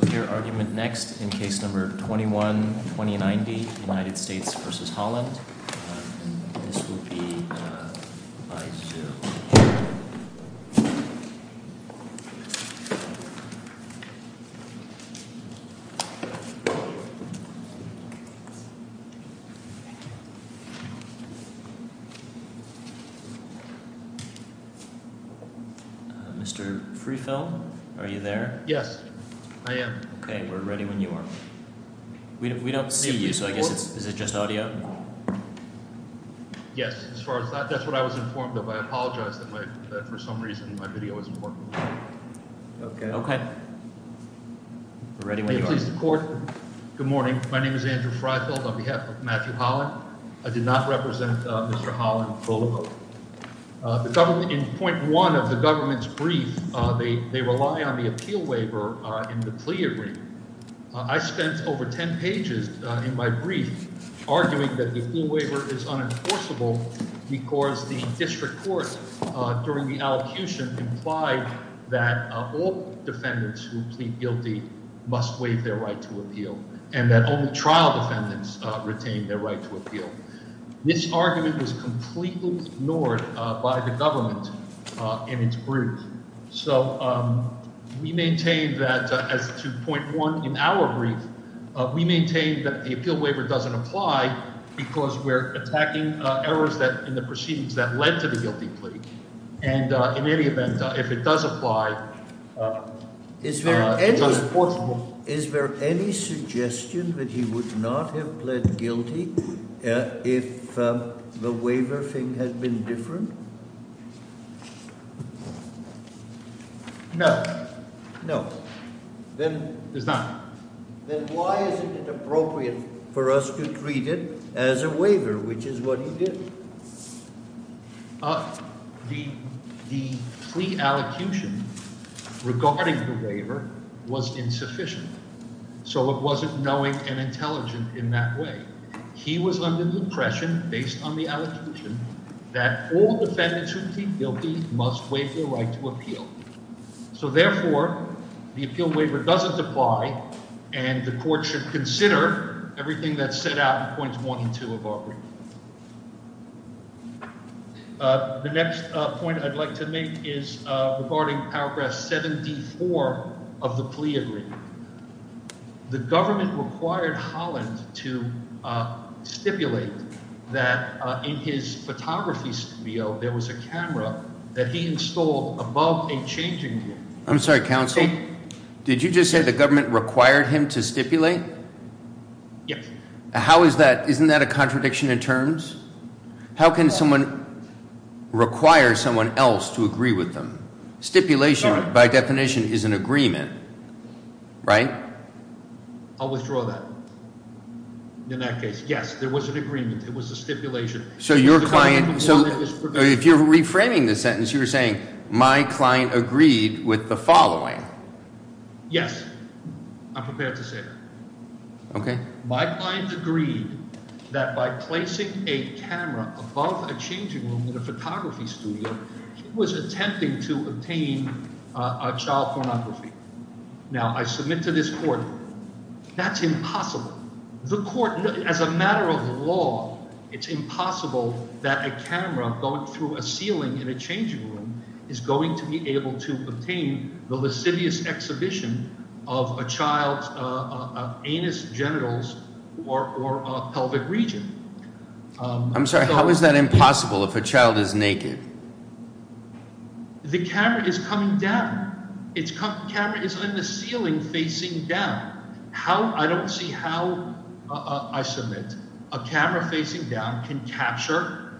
We will hear argument next in Case No. 21-2090, United States v. Holland, and this will be revised to... Mr. Friefeld, are you there? Yes, I am. Okay, we're ready when you are. We don't see you, so I guess is it just audio? Yes, as far as that, that's what I was informed of. I apologize that for some reason my video was important. Okay, okay. We're ready when you are. Good morning. My name is Andrew Friefeld on behalf of Matthew Holland. I did not represent Mr. Holland. In Point 1 of the government's brief, they rely on the appeal waiver in the plea agreement. I spent over 10 pages in my brief arguing that the appeal waiver is unenforceable because the district court, during the allocution, implied that all defendants who plead guilty must waive their right to appeal, and that only trial defendants retain their right to appeal. This argument was completely ignored by the government in its brief, so we maintain that as to Point 1 in our brief, we maintain that the appeal waiver doesn't apply because we're attacking errors in the proceedings that led to the guilty plea, and in any event, if it does apply, it's unenforceable. Is there any suggestion that he would not have pled guilty if the waiver thing had been different? No. No. There's not. Then why is it inappropriate for us to treat it as a waiver, which is what he did? The plea allocution regarding the waiver was insufficient, so it wasn't knowing and intelligent in that way. He was under the impression, based on the allocation, that all defendants who plead guilty must waive their right to appeal. So therefore, the appeal waiver doesn't apply, and the court should consider everything that's set out in Points 1 and 2 of our brief. The next point I'd like to make is regarding Paragraph 74 of the plea agreement. The government required Holland to stipulate that in his photography studio there was a camera that he installed above a changing room. I'm sorry, counsel. Did you just say the government required him to stipulate? Yes. Isn't that a contradiction in terms? How can someone require someone else to agree with them? Stipulation, by definition, is an agreement. Right? I'll withdraw that in that case. Yes, there was an agreement. It was a stipulation. So your client – if you're reframing the sentence, you're saying my client agreed with the following. Yes. I'm prepared to say that. Okay. My client agreed that by placing a camera above a changing room in a photography studio, he was attempting to obtain a child pornography. Now, I submit to this court that's impossible. The court – as a matter of law, it's impossible that a camera going through a ceiling in a changing room is going to be able to obtain the lascivious exhibition of a child's anus, genitals, or pelvic region. I'm sorry. How is that impossible if a child is naked? The camera is coming down. It's – the camera is on the ceiling facing down. How – I don't see how, I submit, a camera facing down can capture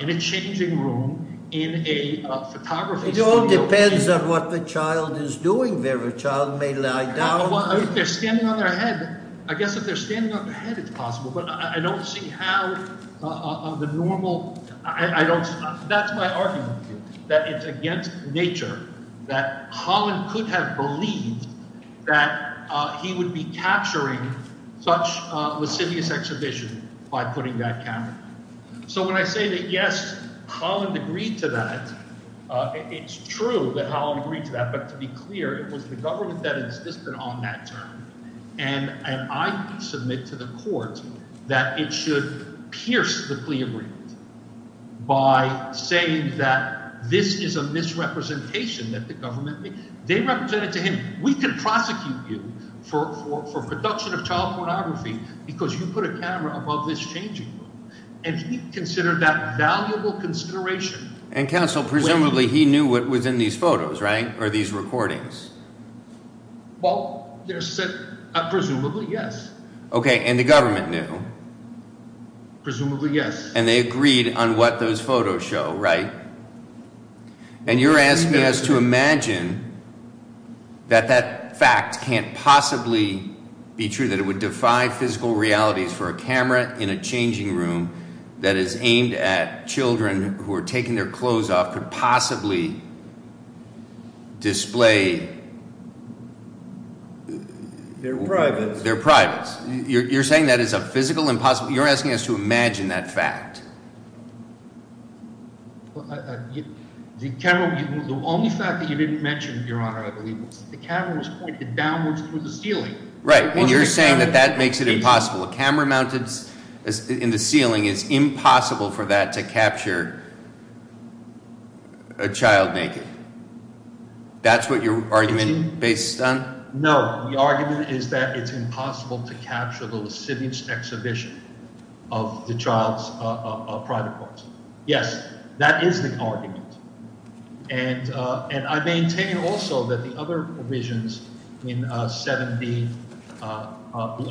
in a changing room in a photography studio. It all depends on what the child is doing there. A child may lie down. Well, if they're standing on their head – I guess if they're standing on their head, it's possible, but I don't see how the normal – I don't – that's my argument. That it's against nature that Holland could have believed that he would be capturing such a lascivious exhibition by putting that camera. So when I say that, yes, Holland agreed to that, it's true that Holland agreed to that. But to be clear, it was the government that insisted on that term, and I submit to the court that it should pierce the plea agreement by saying that this is a misrepresentation that the government – they represent it to him. And we can prosecute you for production of child pornography because you put a camera above this changing room. And he considered that valuable consideration. And, counsel, presumably he knew what was in these photos, right, or these recordings? Well, there's – presumably, yes. Okay, and the government knew? Presumably, yes. And they agreed on what those photos show, right? And you're asking us to imagine that that fact can't possibly be true, that it would defy physical realities for a camera in a changing room that is aimed at children who are taking their clothes off could possibly display their privates. You're saying that is a physical impossible – you're asking us to imagine that fact. The camera – the only fact that you didn't mention, Your Honor, I believe, was that the camera was pointed downwards through the ceiling. Right, and you're saying that that makes it impossible. A camera mounted in the ceiling is impossible for that to capture a child naked. That's what your argument is based on? No, the argument is that it's impossible to capture the lascivious exhibition of the child's private parts. Yes, that is the argument. And I maintain also that the other provisions in 7B, the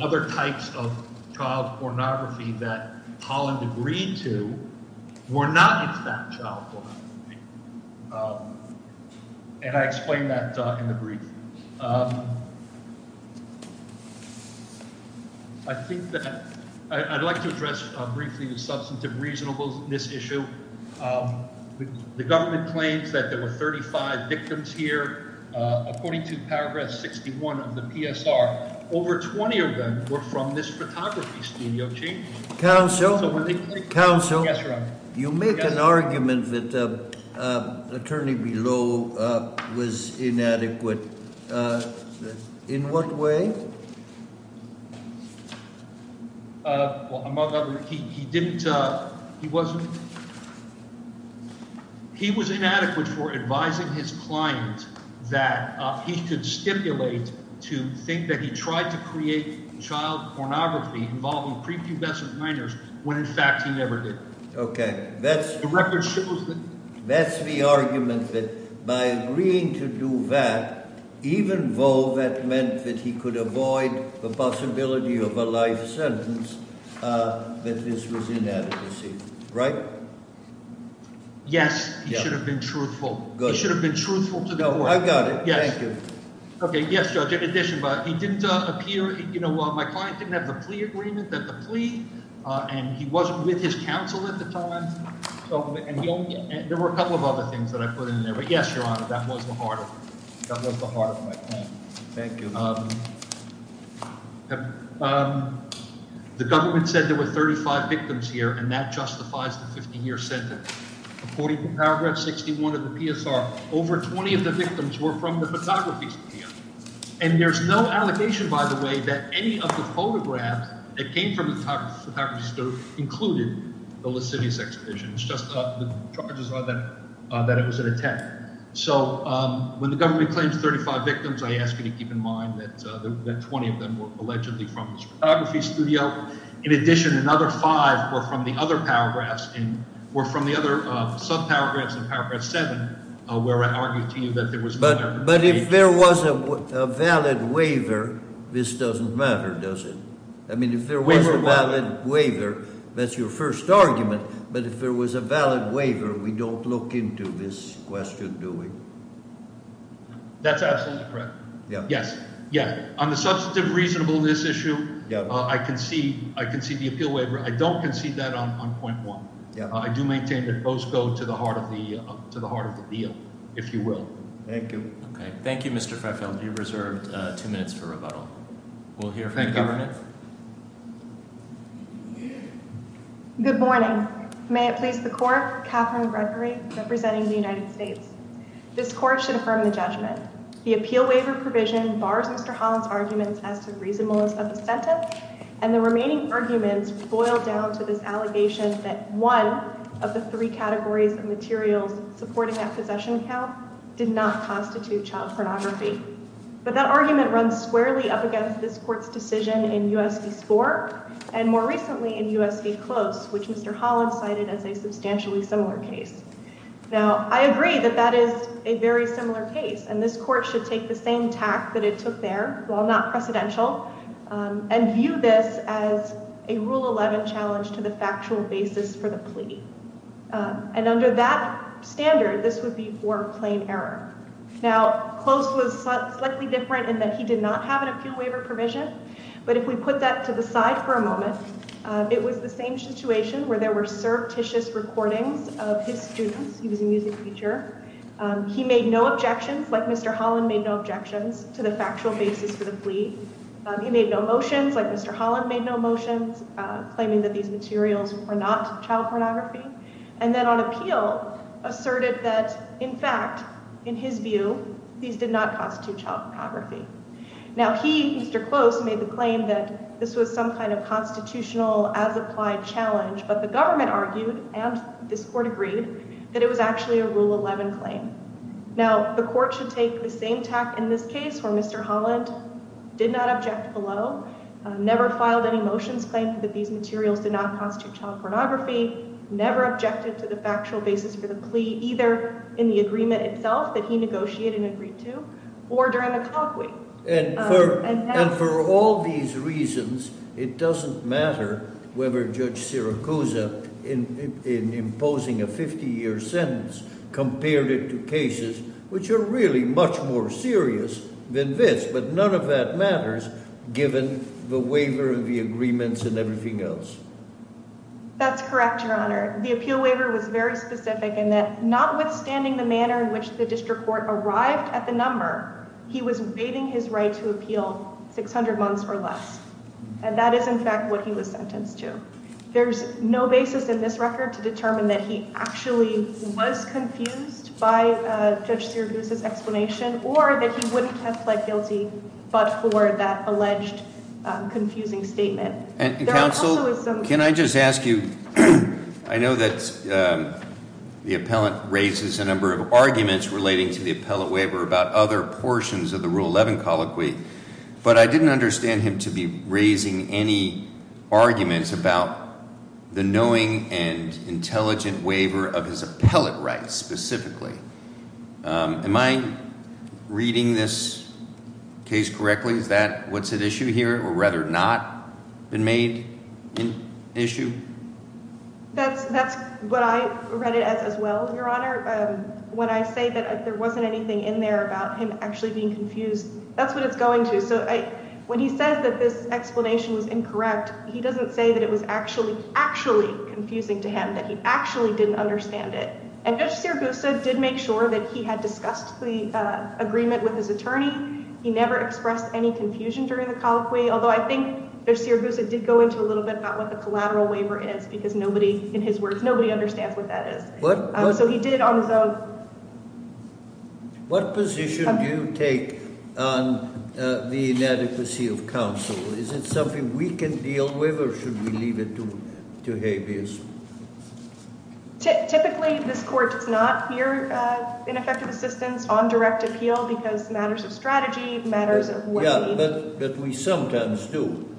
other types of child pornography that Holland agreed to were not in fact child pornography. And I explained that in the brief. I think that – I'd like to address briefly the substantive reasonableness issue. The government claims that there were 35 victims here. According to paragraph 61 of the PSR, over 20 of them were from this photography studio changing room. Counsel, you make an argument that the attorney below was inadequate. In what way? Well, among other – he didn't – he wasn't – he was inadequate for advising his client that he could stipulate to think that he tried to create child pornography involving prepubescent minors when, in fact, he never did. Okay. The record shows that. That's the argument that by agreeing to do that, even though that meant that he could avoid the possibility of a life sentence, that this was inadequacy. Right? Yes. He should have been truthful. Good. He should have been truthful to the court. No, I got it. Thank you. Okay, yes, Judge. In addition, he didn't appear – my client didn't have the plea agreement, the plea, and he wasn't with his counsel at the time. There were a couple of other things that I put in there, but yes, Your Honor, that was the heart of it. That was the heart of my claim. Thank you. The government said there were 35 victims here, and that justifies the 50-year sentence. According to paragraph 61 of the PSR, over 20 of the victims were from the photography studio, and there's no allegation, by the way, that any of the photographs that came from the photography studio included the Lasidius exhibition. It's just the charges are that it was an attempt. So when the government claims 35 victims, I ask you to keep in mind that 20 of them were allegedly from the photography studio. In addition, another five were from the other paragraphs – were from the other sub-paragraphs in paragraph 7 where I argued to you that there was no – But if there was a valid waiver, this doesn't matter, does it? I mean if there was a valid waiver, that's your first argument, but if there was a valid waiver, we don't look into this question, do we? That's absolutely correct. Yes. Yeah. On the substantive reasonableness issue, I concede the appeal waiver. I don't concede that on point one. I do maintain that both go to the heart of the deal, if you will. Thank you. Okay. Thank you, Mr. Freffel. You're reserved two minutes for rebuttal. We'll hear from the government. Good morning. May it please the court, Catherine Gregory representing the United States. This court should affirm the judgment. The appeal waiver provision bars Mr. Holland's arguments as to reasonableness of the sentence, and the remaining arguments boil down to this allegation that one of the three categories of materials supporting that possession count did not constitute child pornography. But that argument runs squarely up against this court's decision in U.S. v. Spork and more recently in U.S. v. Close, which Mr. Holland cited as a substantially similar case. Now, I agree that that is a very similar case, and this court should take the same tact that it took there, while not precedential, and view this as a Rule 11 challenge to the factual basis for the plea. And under that standard, this would be more plain error. Now, Close was slightly different in that he did not have an appeal waiver provision. But if we put that to the side for a moment, it was the same situation where there were surreptitious recordings of his students. He was a music teacher. He made no objections, like Mr. Holland made no objections, to the factual basis for the plea. He made no motions, like Mr. Holland made no motions, claiming that these materials were not child pornography. And then on appeal, asserted that, in fact, in his view, these did not constitute child pornography. Now, he, Mr. Close, made the claim that this was some kind of constitutional, as-applied challenge. But the government argued, and this court agreed, that it was actually a Rule 11 claim. Now, the court should take the same tact in this case, where Mr. Holland did not object below, never filed any motions claiming that these materials did not constitute child pornography, never objected to the factual basis for the plea, either in the agreement itself that he negotiated and agreed to, or during the clock week. And for all these reasons, it doesn't matter whether Judge Siracusa, in imposing a 50-year sentence, compared it to cases which are really much more serious than this. But none of that matters, given the waiver of the agreements and everything else. That's correct, Your Honor. The appeal waiver was very specific in that, notwithstanding the manner in which the district court arrived at the number, he was waiving his right to appeal 600 months or less. And that is, in fact, what he was sentenced to. There's no basis in this record to determine that he actually was confused by Judge Siracusa's explanation, or that he wouldn't have pled guilty but for that alleged confusing statement. Counsel, can I just ask you, I know that the appellant raises a number of arguments relating to the appellate waiver about other portions of the Rule 11 colloquy. But I didn't understand him to be raising any arguments about the knowing and intelligent waiver of his appellate rights, specifically. Am I reading this case correctly? Is that what's at issue here, or rather not been made an issue? That's what I read it as as well, Your Honor. When I say that there wasn't anything in there about him actually being confused, that's what it's going to. So when he says that this explanation was incorrect, he doesn't say that it was actually, actually confusing to him, that he actually didn't understand it. And Judge Siracusa did make sure that he had discussed the agreement with his attorney. He never expressed any confusion during the colloquy, although I think Judge Siracusa did go into a little bit about what the collateral waiver is, because nobody, in his words, nobody understands what that is. So he did on his own. What position do you take on the inadequacy of counsel? Is it something we can deal with, or should we leave it to habeas? Typically, this court does not hear ineffective assistance on direct appeal because matters of strategy, matters of what… Yeah, but we sometimes do.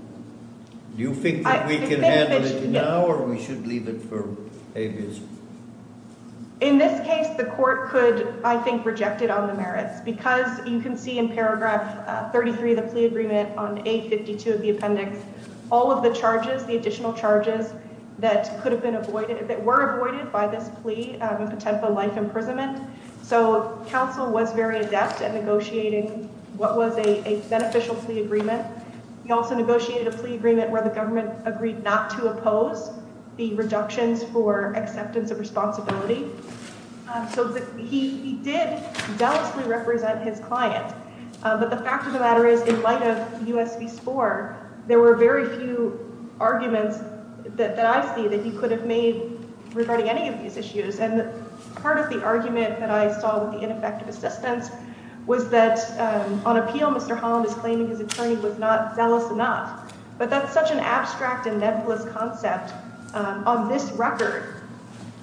Do you think that we can handle it now, or we should leave it for habeas? In this case, the court could, I think, reject it on the merits, because you can see in paragraph 33 of the plea agreement on 852 of the appendix, all of the charges, the additional charges that could have been avoided, that were avoided by this plea in Potempa life imprisonment. So counsel was very adept at negotiating what was a beneficial plea agreement. He also negotiated a plea agreement where the government agreed not to oppose the reductions for acceptance of responsibility. So he did zealously represent his client. But the fact of the matter is, in light of U.S. v. Spore, there were very few arguments that I see that he could have made regarding any of these issues. And part of the argument that I saw with the ineffective assistance was that on appeal, Mr. Holland is claiming his attorney was not zealous enough. But that's such an abstract and nebulous concept on this record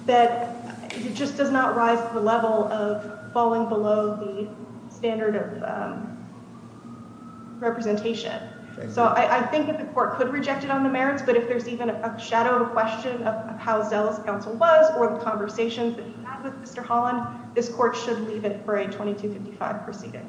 that it just does not rise to the level of falling below the standard of representation. So I think that the court could reject it on the merits, but if there's even a shadow of a question of how zealous counsel was or the conversations that he had with Mr. Holland, this court should leave it for a 2255 proceeding.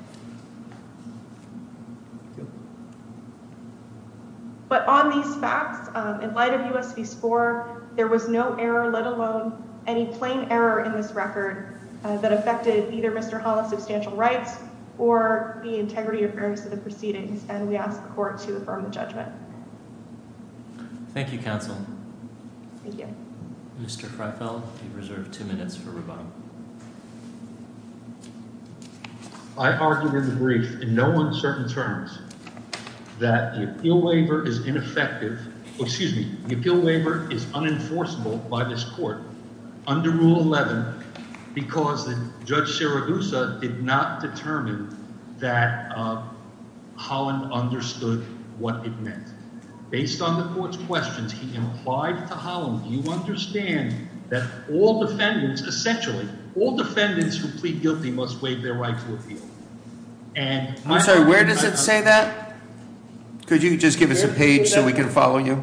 But on these facts, in light of U.S. v. Spore, there was no error, let alone any plain error in this record that affected either Mr. Holland's substantial rights or the integrity or fairness of the proceedings. And we ask the court to affirm the judgment. Thank you, counsel. Thank you. Mr. Freifeld, you have reserved two minutes for rebuttal. I argued in the brief in no uncertain terms that the appeal waiver is ineffective – excuse me, the appeal waiver is unenforceable by this court under Rule 11 because Judge Siragusa did not determine that Holland understood what it meant. Based on the court's questions, he implied to Holland, you understand that all defendants – essentially, all defendants who plead guilty must waive their right to appeal. I'm sorry, where does it say that? Could you just give us a page so we can follow you?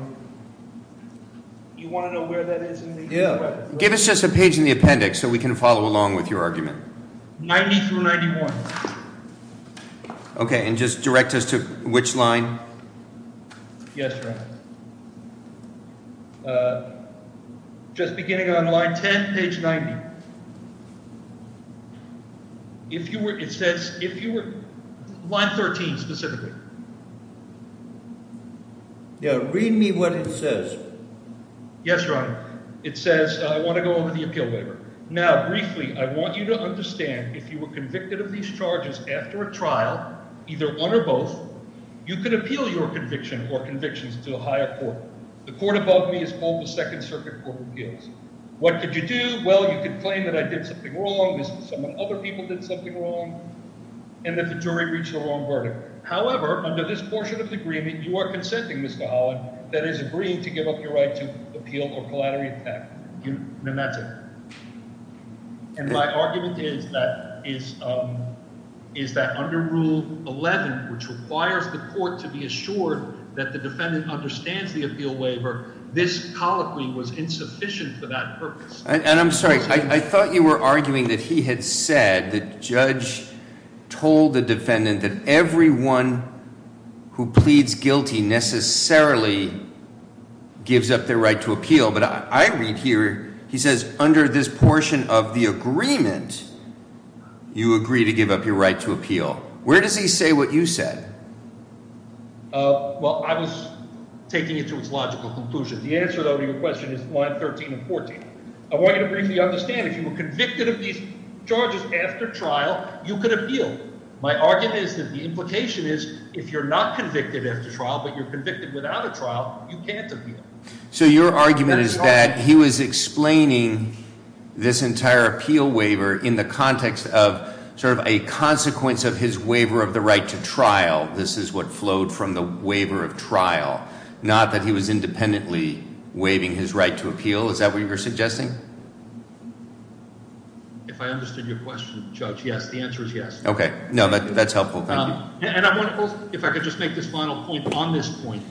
You want to know where that is? Yeah. Give us just a page in the appendix so we can follow along with your argument. 90 through 91. Okay, and just direct us to which line? Yes, Your Honor. Just beginning on line 10, page 90. If you were – it says if you were – line 13 specifically. Yeah, read me what it says. Yes, Your Honor. It says I want to go over the appeal waiver. Now, briefly, I want you to understand if you were convicted of these charges after a trial, either one or both, you could appeal your conviction or convictions to the higher court. The court above me is called the Second Circuit Court of Appeals. What could you do? Well, you could claim that I did something wrong, this is someone – other people did something wrong, and that the jury reached a wrong verdict. However, under this portion of the agreement, you are consenting, Mr. Holland, that is agreeing to give up your right to appeal or collaterally attack. And that's it. And my argument is that under Rule 11, which requires the court to be assured that the defendant understands the appeal waiver, this colloquy was insufficient for that purpose. And I'm sorry. I thought you were arguing that he had said – the judge told the defendant that everyone who pleads guilty necessarily gives up their right to appeal. But I read here – he says under this portion of the agreement, you agree to give up your right to appeal. Where does he say what you said? Well, I was taking it to its logical conclusion. The answer, though, to your question is Line 13 and 14. I want you to briefly understand if you were convicted of these charges after trial, you could appeal. My argument is that the implication is if you're not convicted after trial but you're convicted without a trial, you can't appeal. So your argument is that he was explaining this entire appeal waiver in the context of sort of a consequence of his waiver of the right to trial. This is what flowed from the waiver of trial. Not that he was independently waiving his right to appeal. Is that what you're suggesting? If I understood your question, Judge, yes. The answer is yes. Okay. No, that's helpful. Thank you. And I want to – if I could just make this final point on this point.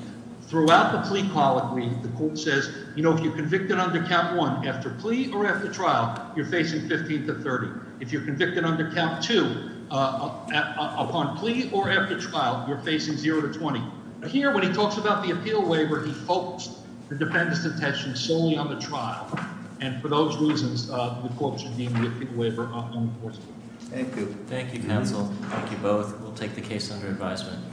Throughout the plea colloquy, the court says if you're convicted under Cap 1 after plea or after trial, you're facing 15 to 30. If you're convicted under Cap 2 upon plea or after trial, you're facing zero to 20. Here when he talks about the appeal waiver, he focused the defendant's attention solely on the trial, and for those reasons the court should deem the appeal waiver unenforceable. Thank you. Thank you, counsel. Thank you both. We'll take the case under advisement.